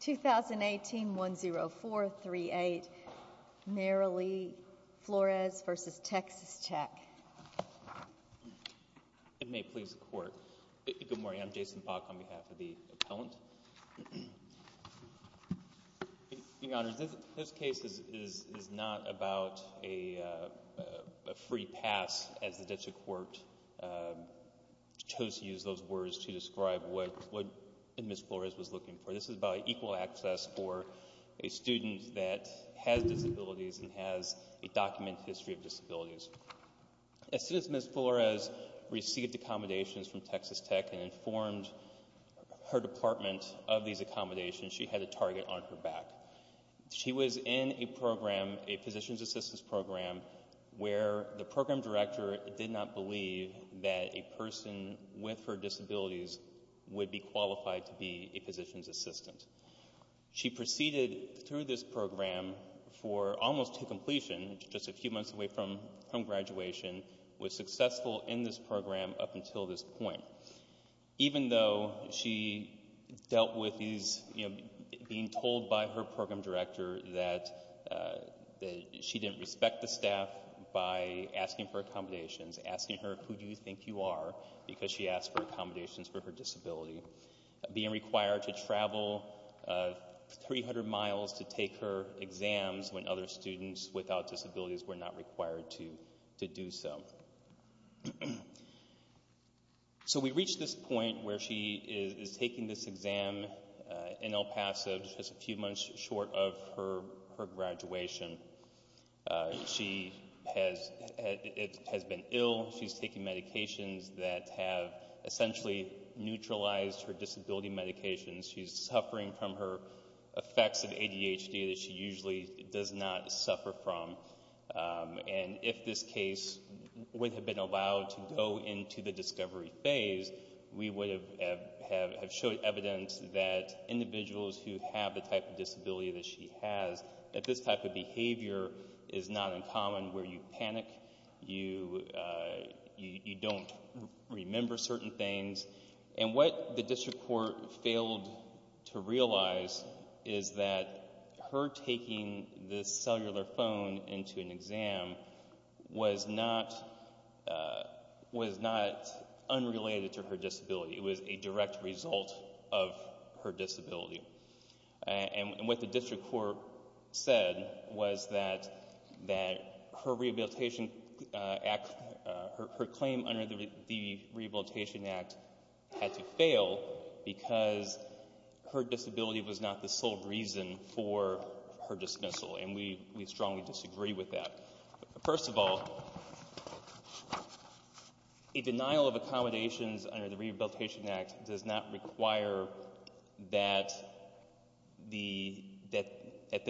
2018-10438 Marily Flores v. TX Tech It may please the court. Good morning, I'm Jason Pach on behalf of the appellant. Your Honor, this case is not about a free pass as the District Court chose to use those words to describe what Ms. Flores was looking for. This is about equal access for a student that has disabilities and has a documented history of disabilities. As soon as Ms. Flores received accommodations from Texas Tech and informed her department of these accommodations, she had a target on her back. She was in a program, a positions assistance program, where the program director did not believe that a person with her disabilities would be qualified to be a positions assistant. She proceeded through this program for almost to completion, just a few months away from graduation, was successful in this program up until this point. Even though she dealt with these, you know, being told by her program director that she didn't respect the staff by asking for accommodations, asking her who do you think you are because she asked for accommodations for her disability, being required to travel 300 miles to take her exams when other students without disabilities were not required to do so. So we reach this point where she is taking this exam in El Paso just a few months short of her graduation. She has been ill, she's taking medications that have essentially neutralized her disability medications. She's suffering from her effects of ADHD that she usually does not suffer from. And if this case would have been allowed to go into the discovery phase, we would have showed evidence that individuals who have the type of disability that she has, that this type of behavior is not uncommon where you panic, you don't remember certain things. And what the district court failed to realize is that her taking this cellular phone into an exam was not unrelated to her disability. It was a direct result of her disability. And what the district court said was that her claim under the Rehabilitation Act had to fail because her disability was not the sole reason for her dismissal. And we strongly disagree with that. First of all, a denial of accommodations under the Rehabilitation Act does not require that the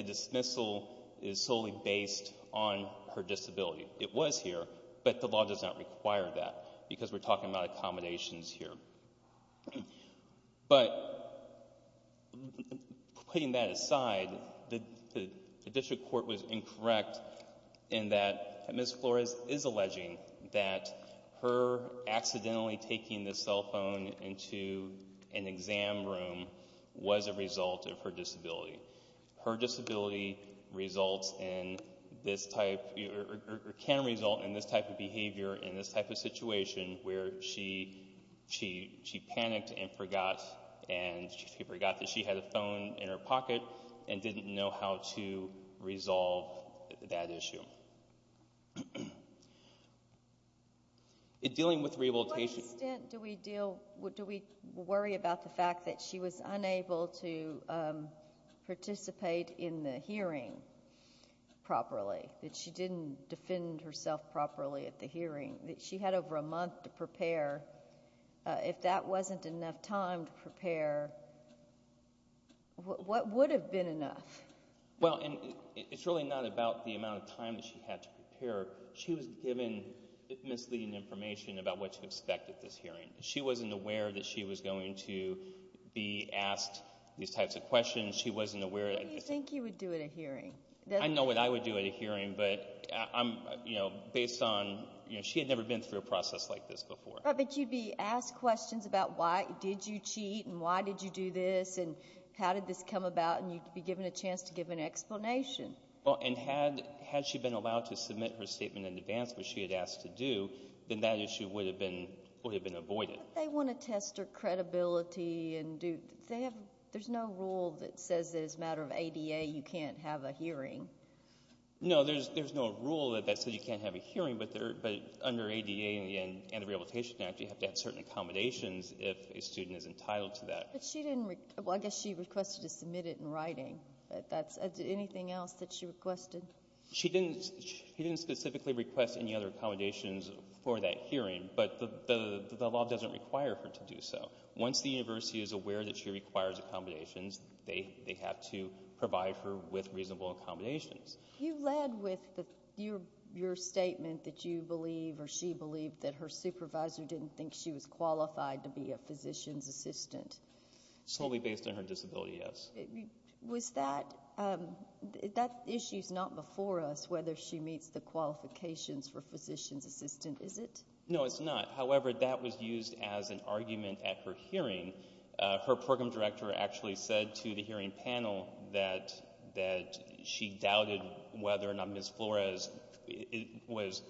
dismissal is solely based on her disability. It was here, but the law does not require that because we're talking about accommodations here. But putting that aside, the district court was incorrect in that Ms. Flores is alleging that her accidentally taking this cell phone into an exam room was a result of her disability. Her disability can result in this type of behavior and this type of situation where she panicked and forgot that she had a phone in her pocket and didn't know how to resolve that issue. What extent do we worry about the fact that she was unable to participate in the hearing properly, that she didn't defend herself properly at the hearing, that she had over a month to prepare? If that wasn't enough time to prepare, what would have been enough? Well, it's really not about the amount of time that she had to prepare. She was given misleading information about what to expect at this hearing. She wasn't aware that she was going to be asked these types of questions. She wasn't aware... What do you think you would do at a hearing? I know what I would do at a hearing, but based on... She had never been through a process like this before. But you'd be asked questions about why did you cheat and why did you do this and how did this come about, and you'd be given a chance to give an explanation. Well, and had she been allowed to submit her statement in advance, which she had asked to do, then that issue would have been avoided. But they want to test her credibility and do... There's no rule that says that as a matter of ADA, you can't have a hearing. No, there's no rule that says you can't have a hearing, but under ADA and the Rehabilitation Act, you have to have certain accommodations if a student is entitled to that. But she didn't... Well, I guess she requested to submit it in writing. Anything else that she requested? She didn't specifically request any other accommodations for that hearing, but the law doesn't require her to do so. Once the university is aware that she requires accommodations, they have to provide her with reasonable accommodations. You led with your statement that you believe, or she believed, that her supervisor didn't think she was qualified to be a physician's assistant. Solely based on her disability, yes. Was that... That issue's not before us, whether she meets the qualifications for physician's assistant, is it? No, it's not. However, that was used as an argument at her hearing. Her program director actually said to the hearing panel that she doubted whether or not Ms. Flores was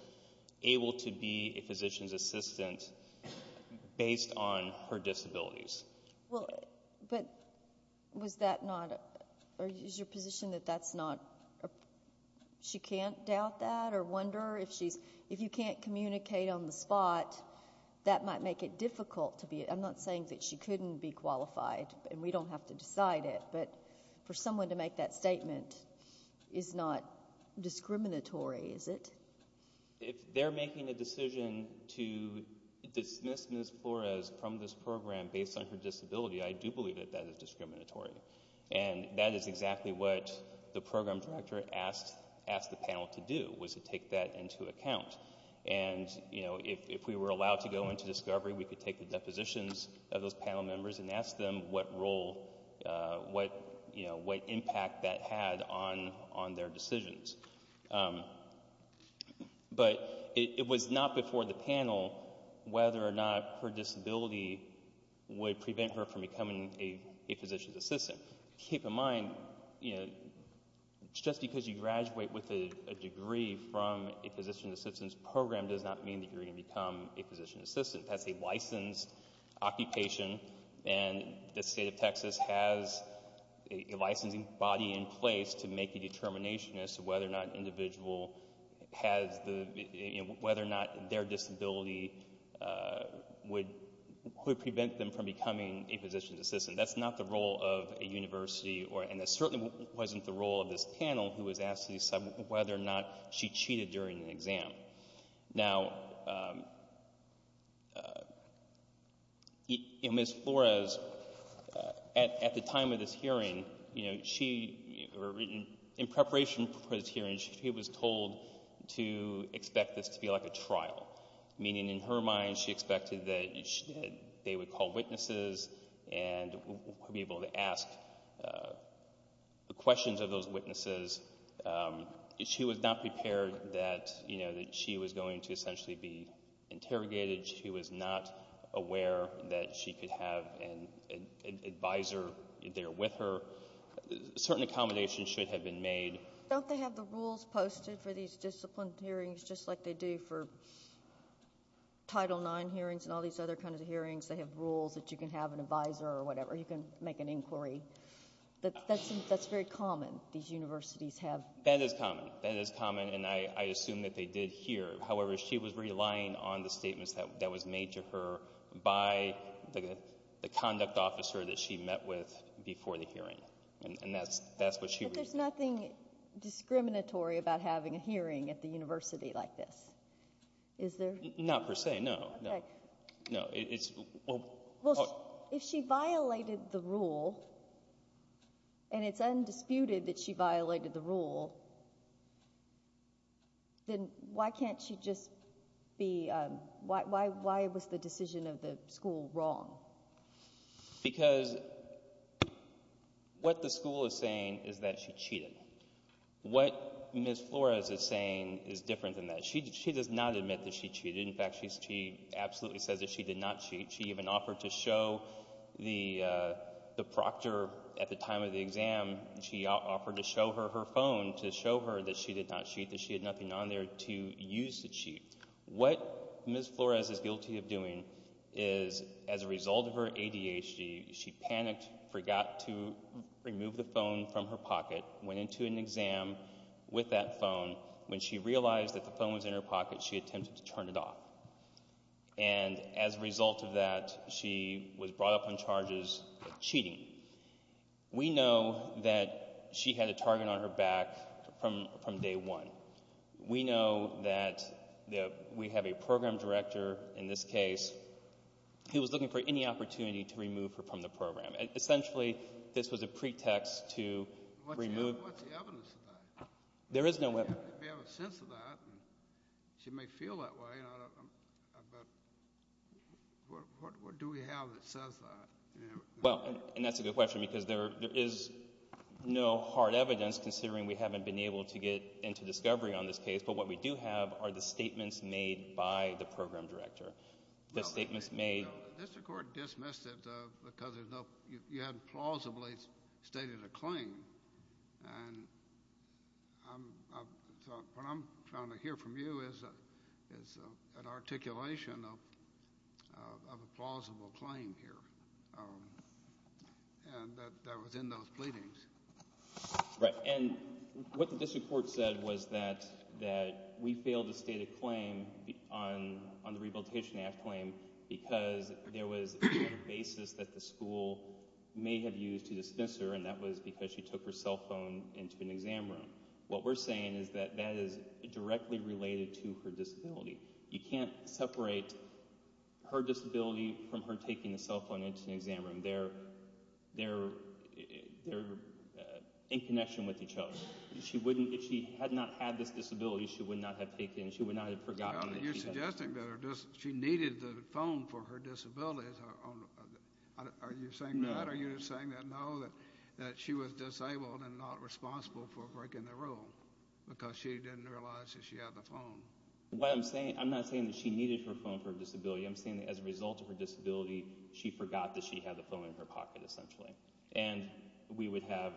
able to be a physician's assistant based on her disabilities. Well, but was that not... Or is your position that that's not... She can't doubt that or wonder if she's... If you can't communicate on the spot, that might make it difficult to be... I'm not saying that she couldn't be qualified, and we don't have to decide it, but for someone to make that statement is not discriminatory, is it? If they're making a decision to dismiss Ms. Flores from this program based on her disability, I do believe that that is discriminatory. That is exactly what the program director asked the panel to do, was to take that into account. If we were allowed to go into discovery, we could take the depositions of those panel members and ask them what role, what impact that had on their decisions. But it was not before the panel whether or not her disability would prevent her from becoming a physician's assistant. Keep in mind, just because you graduate with a degree from a physician's assistant's program does not mean that you're going to become a physician's assistant. That's a licensed occupation, and the state of Texas has a licensing body in place to make a determination as to whether or not an individual has the... Whether or not their disability would prevent them from becoming a physician's assistant. That's not the role of a university, and it certainly wasn't the role of this panel who was asked to decide whether or not she cheated during the exam. Now, Ms. Flores, at the time of this hearing, you know, she, in preparation for this hearing, she was told to expect this to be like a trial. Meaning, in her mind, she expected that they would call witnesses and would be able to ask the questions of those witnesses, and she was not prepared that, you know, that she was going to essentially be interrogated. She was not aware that she could have an advisor there with her. Certain accommodations should have been made. Don't they have the rules posted for these disciplined hearings just like they do for Title IX hearings and all these other kinds of hearings? They have rules that you can have an advisor or whatever. You can make an inquiry. That's very common. These universities have... That is common. That is common, and I assume that they did here. However, she was relying on the statements that was made to her by the conduct officer that she met with before the hearing, and that's what she was... But there's nothing discriminatory about having a hearing at the university like this. Is there? Not per se, no. No, it's... Well, if she violated the rule, and it's undisputed that she violated the rule, then why can't she just be... Why was the decision of the school wrong? Because what the school is saying is that she cheated. What Ms. Flores is saying is different than that. She does not admit that she cheated. In fact, she absolutely says that she did not cheat. She even offered to show the proctor at the time of the exam, she offered to show her her phone to show her that she did not cheat, that she had nothing on there to use to cheat. What Ms. Flores is guilty of doing is as a result of her ADHD, she panicked, forgot to remove the phone from her pocket, went into an exam with that phone. When she realized that the phone was in her pocket, she attempted to turn it off. And as a result of that, she was brought up on charges of cheating. We know that she had a target on her back from day one. We know that we have a program director in this case who was looking for any opportunity to remove her from the program. Essentially, this was a pretext to remove... What's the evidence of that? There is no evidence. We have a sense of that. She may feel that way, but what do we have that says that? Well, and that's a good question because there is no hard evidence, considering we haven't been able to get into discovery on this case, but what we do have are the statements made by the program director. The statements made... No, the district court dismissed it because you hadn't plausibly stated a claim, and what I'm trying to hear from you is an articulation of a plausible claim here that was in those pleadings. Right, and what the district court said was that we failed to state a claim on the Rehabilitation Act claim because there was a basis that the school may have used to dismiss her, and that what we're saying is that that is directly related to her disability. You can't separate her disability from her taking the cell phone into the exam room. They're in connection with each other. If she had not had this disability, she would not have taken it. She would not have forgotten it. You're suggesting that she needed the phone for her disability. Are you saying that? No. Are you saying that no, that she was disabled and not responsible for breaking the rule because she didn't realize that she had the phone? I'm not saying that she needed her phone for her disability. I'm saying that as a result of her disability, she forgot that she had the phone in her pocket, essentially, and we would have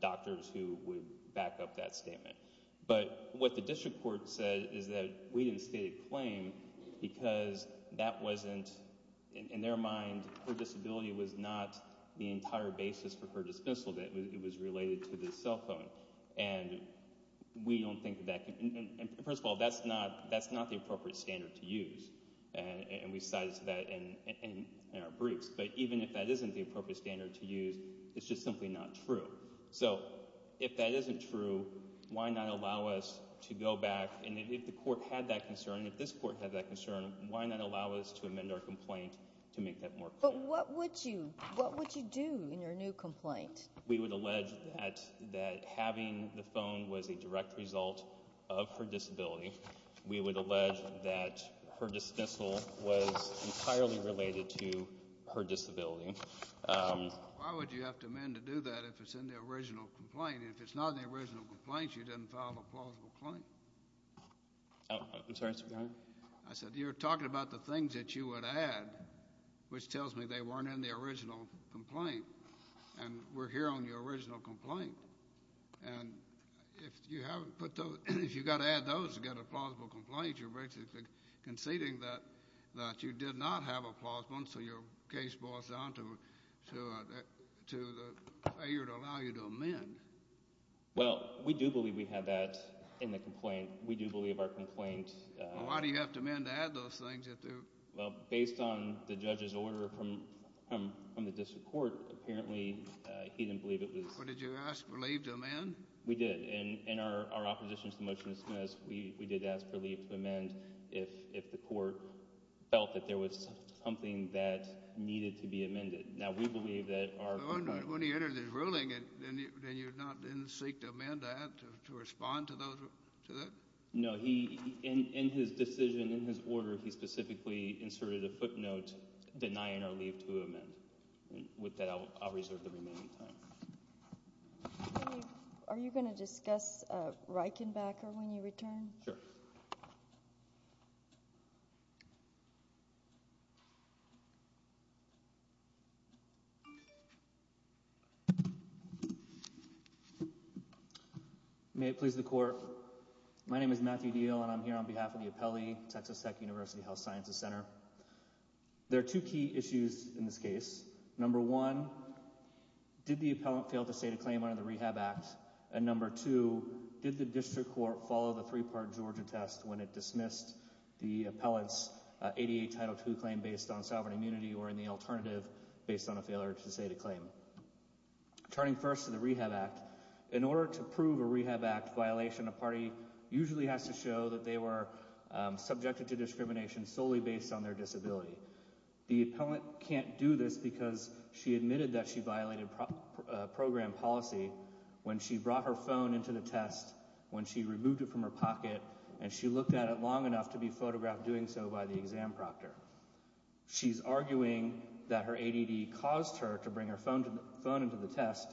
doctors who would back up that statement, but what the district court said is that we didn't state a claim because that wasn't, in their mind, her disability was not the entire basis for her dismissal, that it was related to the cell phone, and we don't think that, first of all, that's not the appropriate standard to use, and we cited that in our briefs, but even if that isn't the appropriate standard to use, it's just simply not true. So if that isn't true, why not allow us to go back, and if the court had that concern, if this court had that concern, why not allow us to amend our complaint to make that more clear? But what would you do in your new complaint? We would allege that having the phone was a direct result of her disability. We would allege that her dismissal was entirely related to her disability. Why would you have to amend to do that if it's in the original complaint? If it's not in the original complaint, you didn't file a plausible claim. I'm sorry, Mr. Governor? I said, you're talking about the things that you would add, which tells me they weren't in the original complaint, and we're here on the original complaint, and if you haven't put those, if you've got to add those to get a plausible complaint, you're basically conceding that you did not have a plausible, and so your case boils down to the failure to allow you to amend. Well, we do believe we had that in the complaint. We do believe our complaint— Why do you have to amend to add those things? Well, based on the judge's order from the district court, apparently he didn't believe it was— But did you ask for leave to amend? We did, and in our opposition to the motion to dismiss, we did ask for leave to amend if the court felt that there was something that needed to be amended. Now, we believe that our— But when he entered his ruling, then you didn't seek to amend that, to respond to that? No, he—in his decision, in his order, he specifically inserted a footnote denying our leave to amend. With that, I'll reserve the remaining time. Are you going to discuss Reichenbacher when you return? Sure. May it please the Court. My name is Matthew Diehl, and I'm here on behalf of the Appellee, Texas Tech University Health Sciences Center. There are two key issues in this case. Number one, did the appellant fail to state a claim under the Rehab Act? And number two, did the district court follow the three-part Georgia test when it dismissed the appellant's ADA Title II claim based on sovereign immunity, or in the alternative, based on a failure to state a claim? Turning first to the Rehab Act, in order to prove a Rehab Act violation, a party usually has to show that they were subjected to discrimination solely based on their disability. The appellant can't do this because she admitted that she violated program policy when she brought her phone into the test, when she removed it from her pocket, and she looked at it long enough to be photographed doing so by the exam proctor. She's arguing that her ADD caused her to bring her phone into the test,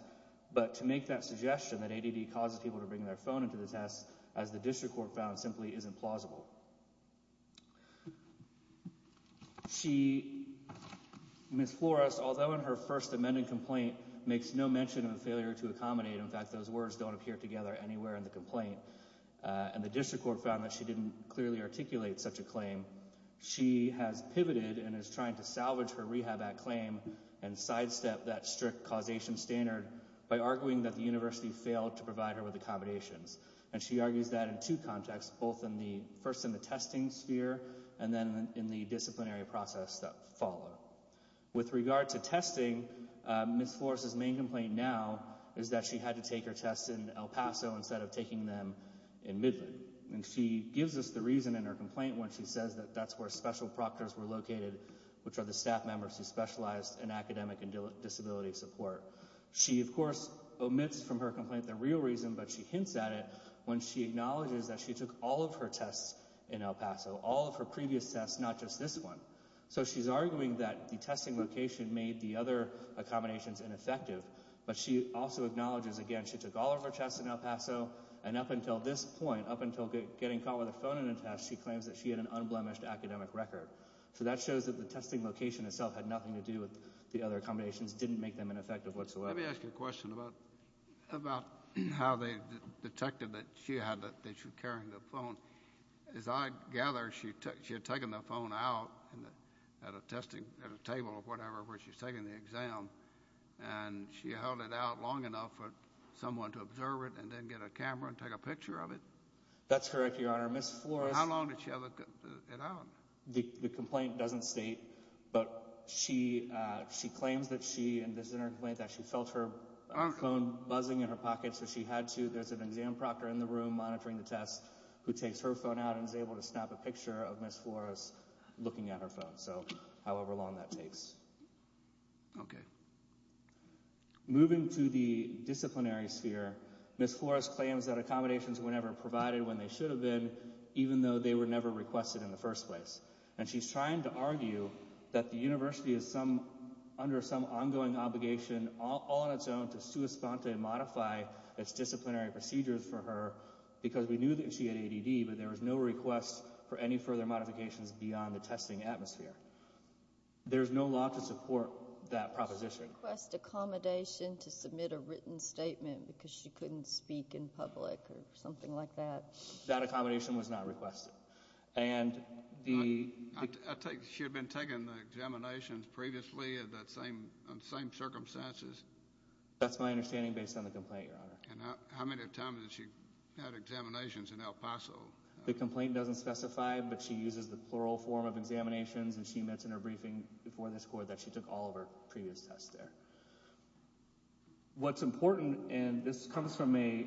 but to make that suggestion that ADD causes people to bring their phone into the test, as the district court found, simply isn't plausible. She, Ms. Flores, although in her first amended complaint makes no mention of a failure to accommodate, in fact those words don't appear together anywhere in the complaint, and the district court found that she didn't clearly articulate such a claim, she has pivoted and is trying to salvage her Rehab Act claim and sidestep that strict causation standard by arguing that the university failed to provide her with accommodations. And she argues that in two contexts, first in the testing sphere, and then in the disciplinary process that followed. With regard to testing, Ms. Flores' main complaint now is that she had to take her tests in El Paso instead of taking them in Midland. She gives us the reason in her complaint when she says that that's where special proctors were located, which are the staff members who specialize in academic and disability support. She, of course, omits from her complaint the real reason, but she hints at it when she acknowledges that she took all of her tests in El Paso, all of her previous tests, not just this one. So she's arguing that the testing location made the other accommodations ineffective, but she also acknowledges, again, she took all of her tests in El Paso, and up until this point, up until getting caught with her phone in a test, she claims that she had an unblemished academic record. So that shows that the testing location itself had nothing to do with the other accommodations, and her questions didn't make them ineffective whatsoever. Let me ask you a question about how they detected that she had, that she was carrying the phone. As I gather, she had taken the phone out at a testing, at a table or whatever, where she's taking the exam, and she held it out long enough for someone to observe it and then get a camera and take a picture of it? That's correct, Your Honor. Ms. Flores... How long did she have it out? The complaint doesn't state, but she claims that she, and this is in her complaint, that she felt her phone buzzing in her pocket, so she had to, there's an exam proctor in the room monitoring the test, who takes her phone out and is able to snap a picture of Ms. Flores looking at her phone. So, however long that takes. Okay. Moving to the disciplinary sphere, Ms. Flores claims that accommodations were never provided when they should have been, even though they were never requested in the first place. And she's trying to argue that the university is under some ongoing obligation, all on its own, to sui sponte and modify its disciplinary procedures for her, because we knew that she had ADD, but there was no request for any further modifications beyond the testing atmosphere. There's no law to support that proposition. She didn't request accommodation to submit a written statement because she couldn't speak in public or something like that. That accommodation was not requested. And the... I take, she had been taking the examinations previously in the same circumstances. That's my understanding based on the complaint, Your Honor. And how many times did she have examinations in El Paso? The complaint doesn't specify, but she uses the plural form of examinations, and she mentioned in her briefing before this Court that she took all of her previous tests there. What's important, and this comes from a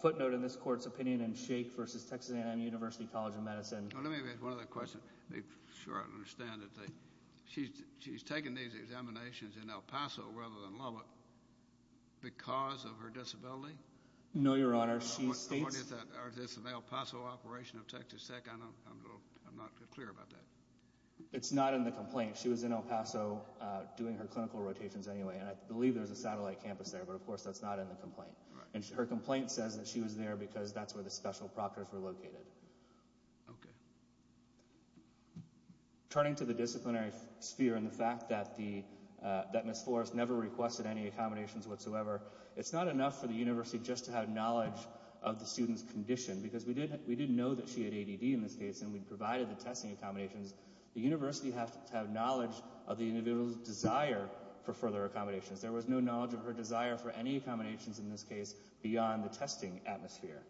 footnote in this Court's opinion, in Shaik v. Texas A&M University College of Medicine... Let me ask one other question to be sure I understand it. She's taken these examinations in El Paso, rather than Lubbock, because of her disability? No, Your Honor. She states... Or is this an El Paso operation of Texas Tech? I'm not clear about that. It's not in the complaint. She was in El Paso doing her clinical rotations anyway, and I believe there's a satellite campus there, but of course that's not in the complaint. And her complaint says that she was there because that's where the special proctors were located. Okay. Turning to the disciplinary sphere and the fact that Ms. Forrest never requested any accommodations whatsoever, it's not enough for the University just to have knowledge of the student's condition, because we did know that she had ADD in this case, and we provided the testing accommodations. The University has to have knowledge of the individual's desire for further accommodations. There was no knowledge of her desire for any accommodations, in this case, beyond the testing atmosphere.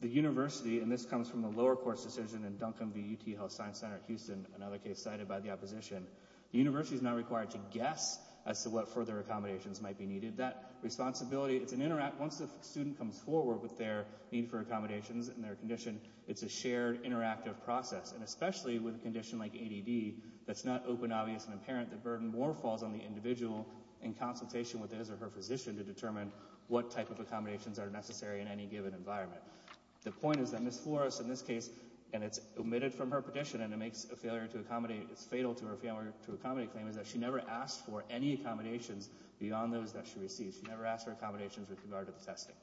The University, and this comes from a lower-course decision in Duncan v. UT Health Science Center at Houston, another case cited by the opposition, the University is not required to guess as to what further accommodations might be needed. That responsibility, it's an interact... Once the student comes forward with their need for accommodations and their condition, it's a shared, interactive process. And especially with a condition like ADD, that's not open, obvious, and apparent, the burden more falls on the individual in consultation with his or her physician to determine what type of accommodations are necessary in any given environment. The point is that Ms. Forrest, in this case, and it's omitted from her petition, and it makes a failure to accommodate... It's fatal to her failure to accommodate claim is that she never asked for any accommodations beyond those that she received. She never asked for accommodations with regard to the testing.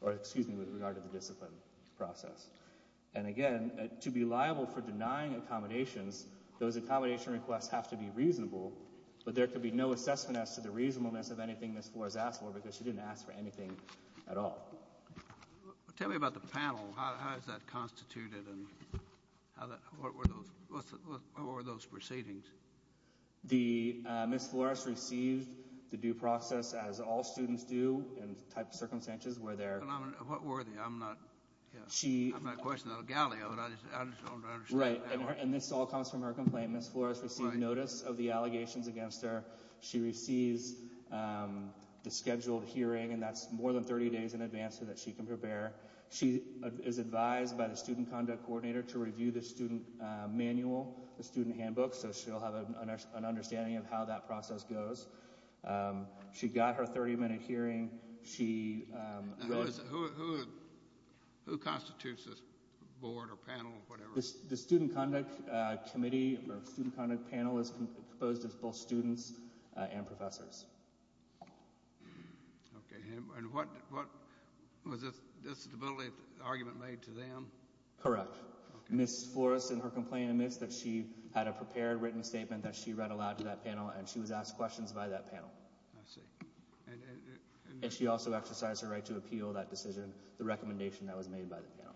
Or, excuse me, with regard to the discipline process. And, again, to be liable for denying accommodations, those accommodation requests have to be reasonable, but there could be no assessment as to the reasonableness of anything Ms. Forrest asked for because she didn't ask for anything at all. Tell me about the panel. How is that constituted? How are those proceedings? Ms. Forrest received the due process as all students do, and the type of circumstances were there. What were they? I'm not questioning the galley of it. I just don't understand. Right. And this all comes from her complaint. Ms. Forrest received notice of the allegations against her. She receives the scheduled hearing, and that's more than 30 days in advance so that she can prepare. She is advised by the student conduct coordinator to review the student manual, the student handbook, so she'll have an understanding of how that process goes. She got her 30-minute hearing. Who constitutes this board or panel or whatever? The student conduct committee or student conduct panel is composed of both students and professors. Okay. And what was the disability argument made to them? Correct. Ms. Forrest in her complaint admits that she had a prepared written statement that she read aloud to that panel, and she was asked questions by that panel. I see. And she also exercised her right to appeal that decision, the recommendation that was made by the panel.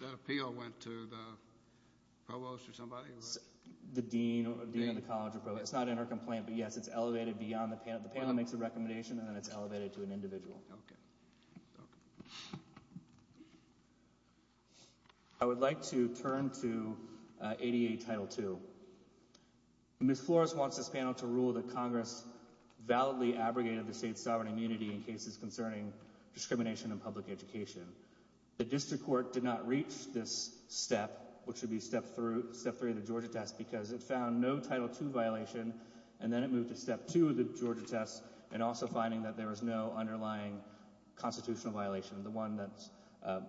That appeal went to the provost or somebody? The dean of the college. It's not in her complaint, but yes, it's elevated beyond the panel. The panel makes a recommendation, and then it's elevated to an individual. Okay. I would like to turn to ADA Title II. Ms. Forrest wants this panel to rule that Congress validly abrogated the state's sovereign immunity in cases concerning discrimination in public education. The district court did not reach this step, which would be step three of the Georgia test, because it found no Title II violation, and then it moved to step two of the Georgia test, and also finding that there was no underlying constitutional violation. The one that,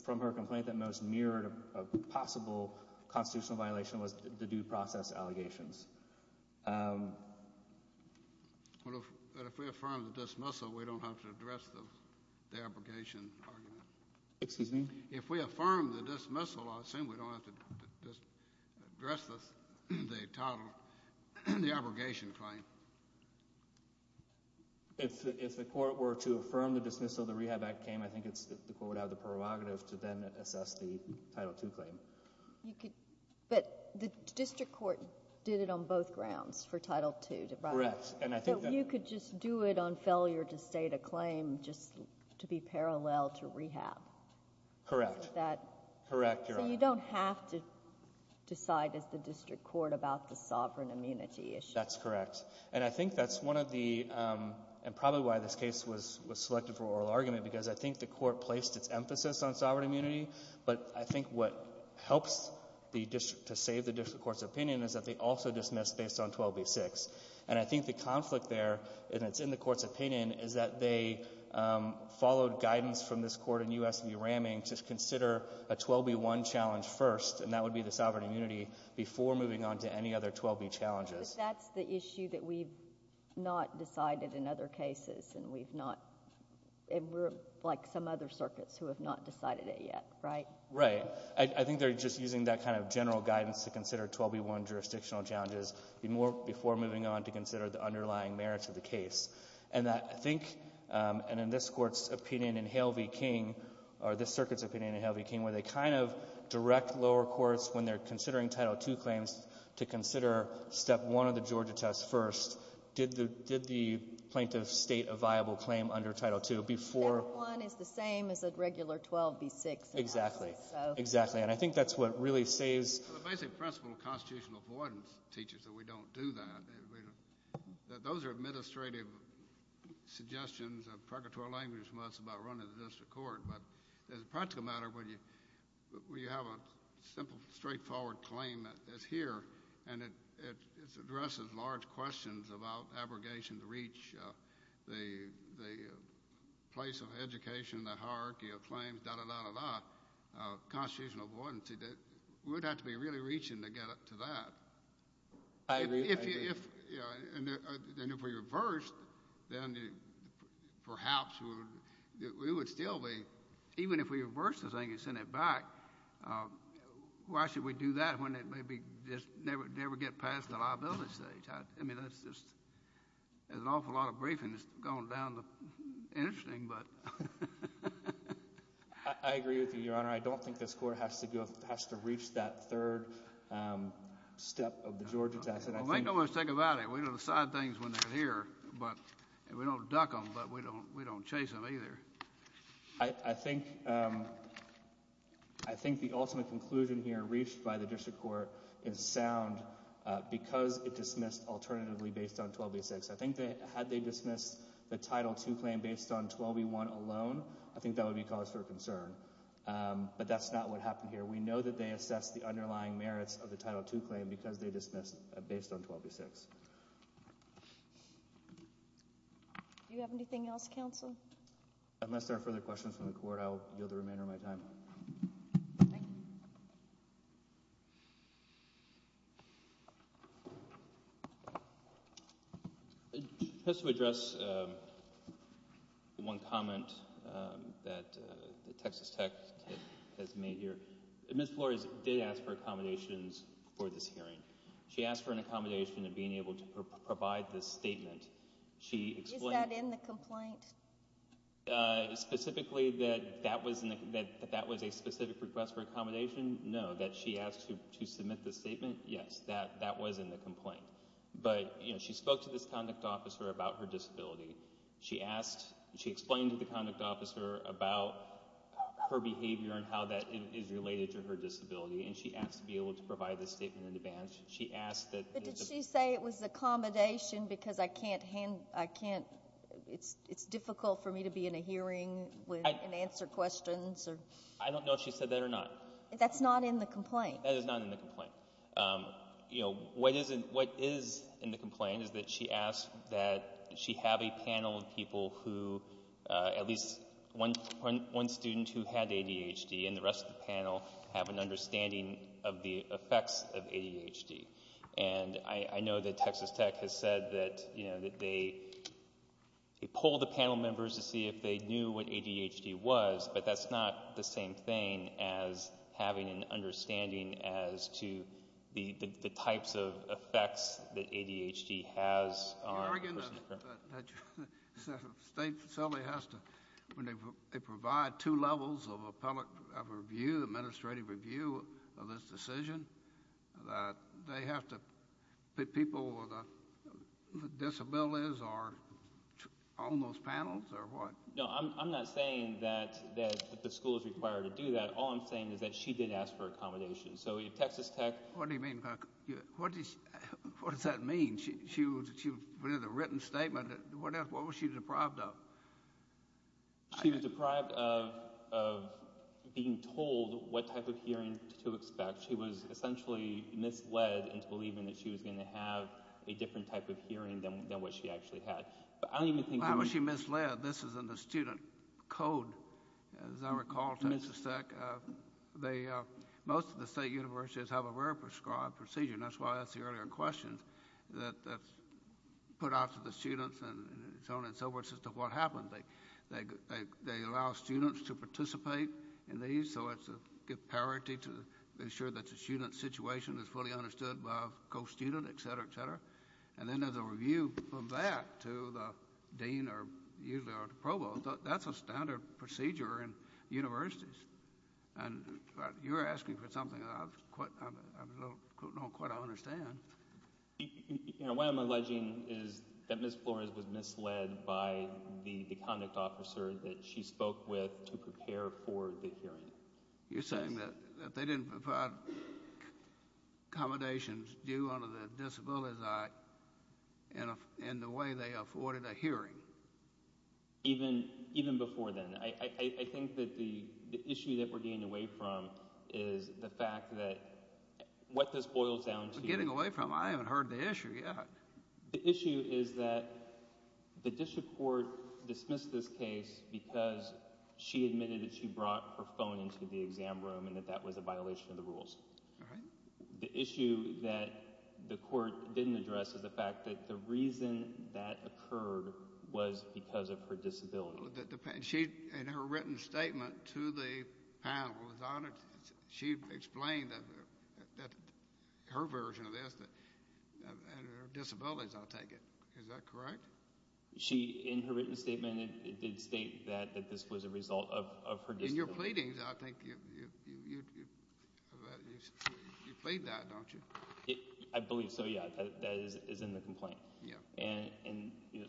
from her complaint, that most mirrored a possible constitutional violation was the due process allegations. But if we affirm the dismissal, we don't have to address the abrogation argument? Excuse me? If we affirm the dismissal, I assume we don't have to address the title, the abrogation claim? If the court were to affirm the dismissal, the rehab act came, I think the court would have the prerogative to then assess the Title II claim. But the district court did it on both grounds for Title II. Correct. You could just do it on failure to state a claim, just to be parallel to rehab. Correct. So you don't have to decide as the district court about the sovereign immunity issue? That's correct. And I think that's one of the, and probably why this case was selected for oral argument, because I think the court placed its emphasis on sovereign immunity. But I think what helps the district, to save the district court's opinion, is that they also dismissed based on 12b-6. And I think the conflict there, and it's in the court's opinion, is that they followed guidance from this court in U.S. v. Ramming to consider a 12b-1 challenge first, and that would be the sovereign immunity, before moving on to any other 12b challenges. But that's the issue that we've not decided in other cases, and we're like some other circuits who have not decided it yet, right? Right. I think they're just using that kind of general guidance to consider 12b-1 jurisdictional challenges before moving on to consider the underlying merits of the case. And I think, and in this court's opinion in Hale v. King, or this circuit's opinion in Hale v. King, where they kind of direct lower courts when they're considering Title II claims to consider Step 1 of the Georgia test first, did the plaintiff state a viable claim under Title II before? Step 1 is the same as a regular 12b-6. Exactly. Exactly. And I think that's what really saves. The basic principle of constitutional avoidance teaches that we don't do that. Those are administrative suggestions of purgatory language from us about running the district court. But as a practical matter, when you have a simple, straightforward claim that's here and it addresses large questions about abrogation to reach the place of education, the hierarchy of claims, da-da-da-da-da, constitutional avoidance, we would have to be really reaching to get up to that. I agree. And if we reversed, then perhaps we would still be. Even if we reversed the thing and sent it back, why should we do that when it may never get past the liability stage? There's an awful lot of briefings going down. Interesting, but... I agree with you, Your Honor. I don't think this Court has to reach that third step of the Georgia test. Well, make no mistake about it. We don't decide things when they're here. We don't duck them, but we don't chase them either. I think the ultimate conclusion here reached by the district court is sound because it dismissed alternatively based on 12b-6. I think that had they dismissed the Title II claim based on 12b-1 alone, I think that would be cause for concern. But that's not what happened here. We know that they assessed the underlying merits of the Title II claim because they dismissed based on 12b-6. Do you have anything else, Counsel? Unless there are further questions from the Court, I'll yield the remainder of my time. Thank you. Just to address one comment that Texas Tech has made here, Ms. Flores did ask for accommodations for this hearing. She asked to be able to provide this statement. Is that in the complaint? Specifically that that was a specific request for accommodation? No. That she asked to submit this statement? Yes. That was in the complaint. But she spoke to this conduct officer about her disability. She explained to the conduct officer about her behavior and how that is related to her disability. And she asked to be able to provide this statement in advance. But did she say it was accommodation because it's difficult for me to be in a hearing and answer questions? I don't know if she said that or not. That's not in the complaint. That is not in the complaint. What is in the complaint is that she asked that she have a panel of people who at least one student who had ADHD and the rest of the panel have an understanding of the effects of ADHD. And I know that Texas Tech has said that they pull the panel members to see if they knew what ADHD was. But that's not the same thing as having an understanding as to the types of effects that ADHD has on a person. Are you arguing that the state facility has to provide two levels of appellate review, administrative review of this decision? That they have to put people with disabilities on those panels or what? No, I'm not saying that the school is required to do that. All I'm saying is that she did ask for accommodation. So Texas Tech... What does that mean? She put in a written statement. What else? What was she deprived of? She was deprived of being told what type of hearing to expect. She was essentially misled into believing that she was going to have a different type of hearing than what she actually had. Why was she misled? This is in the student code, as I recall, Texas Tech. Most of the state universities have a rare prescribed procedure. And that's why I asked the earlier question that's put out to the students and so on and so forth as to what happens. They allow students to participate in these. So it's a good parity to ensure that the student's situation is fully understood by a co-student, etc., etc. And then there's a review from that to the dean or usually the provost. That's a standard procedure in universities. You're asking for something that I don't quite understand. What I'm alleging is that Ms. Flores was misled by the conduct officer that she spoke with to prepare for the hearing. You're saying that they didn't provide accommodations due under the Disabilities Act in the way they afforded a hearing? Even before then. I think that the issue that we're getting away from is the fact that what this boils down to... Getting away from? I haven't heard the issue yet. The issue is that the district court dismissed this case because she admitted that she brought her phone into the exam room and that that was a violation of the rules. The issue that the court didn't address is the fact that the reason that occurred was because of her disability. In her written statement to the panel, she explained that her version of this and her disabilities, I'll take it. Is that correct? She, in her written statement, did state that this was a result of her disability. In your pleadings, I think you plead that, don't you? I believe so, yeah. That is in the complaint.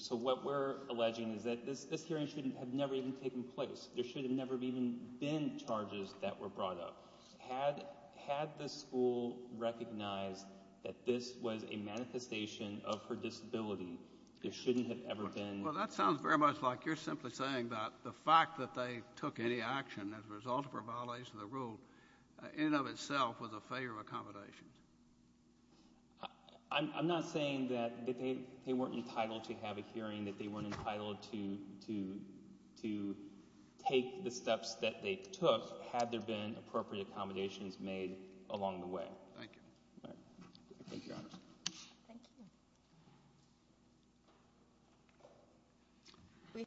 What we're alleging is that this hearing should have never even taken place. There should have never even been charges that were brought up. Had the school recognized that this was a manifestation of her disability, there shouldn't have ever been... That sounds very much like you're simply saying that the fact that they took any action as a result of her violation of the rule in and of itself was a failure of accommodations. I'm not saying that they weren't entitled to have a hearing, that they weren't entitled to take the steps that they took, had there been appropriate accommodations made along the way. Thank you. Thank you.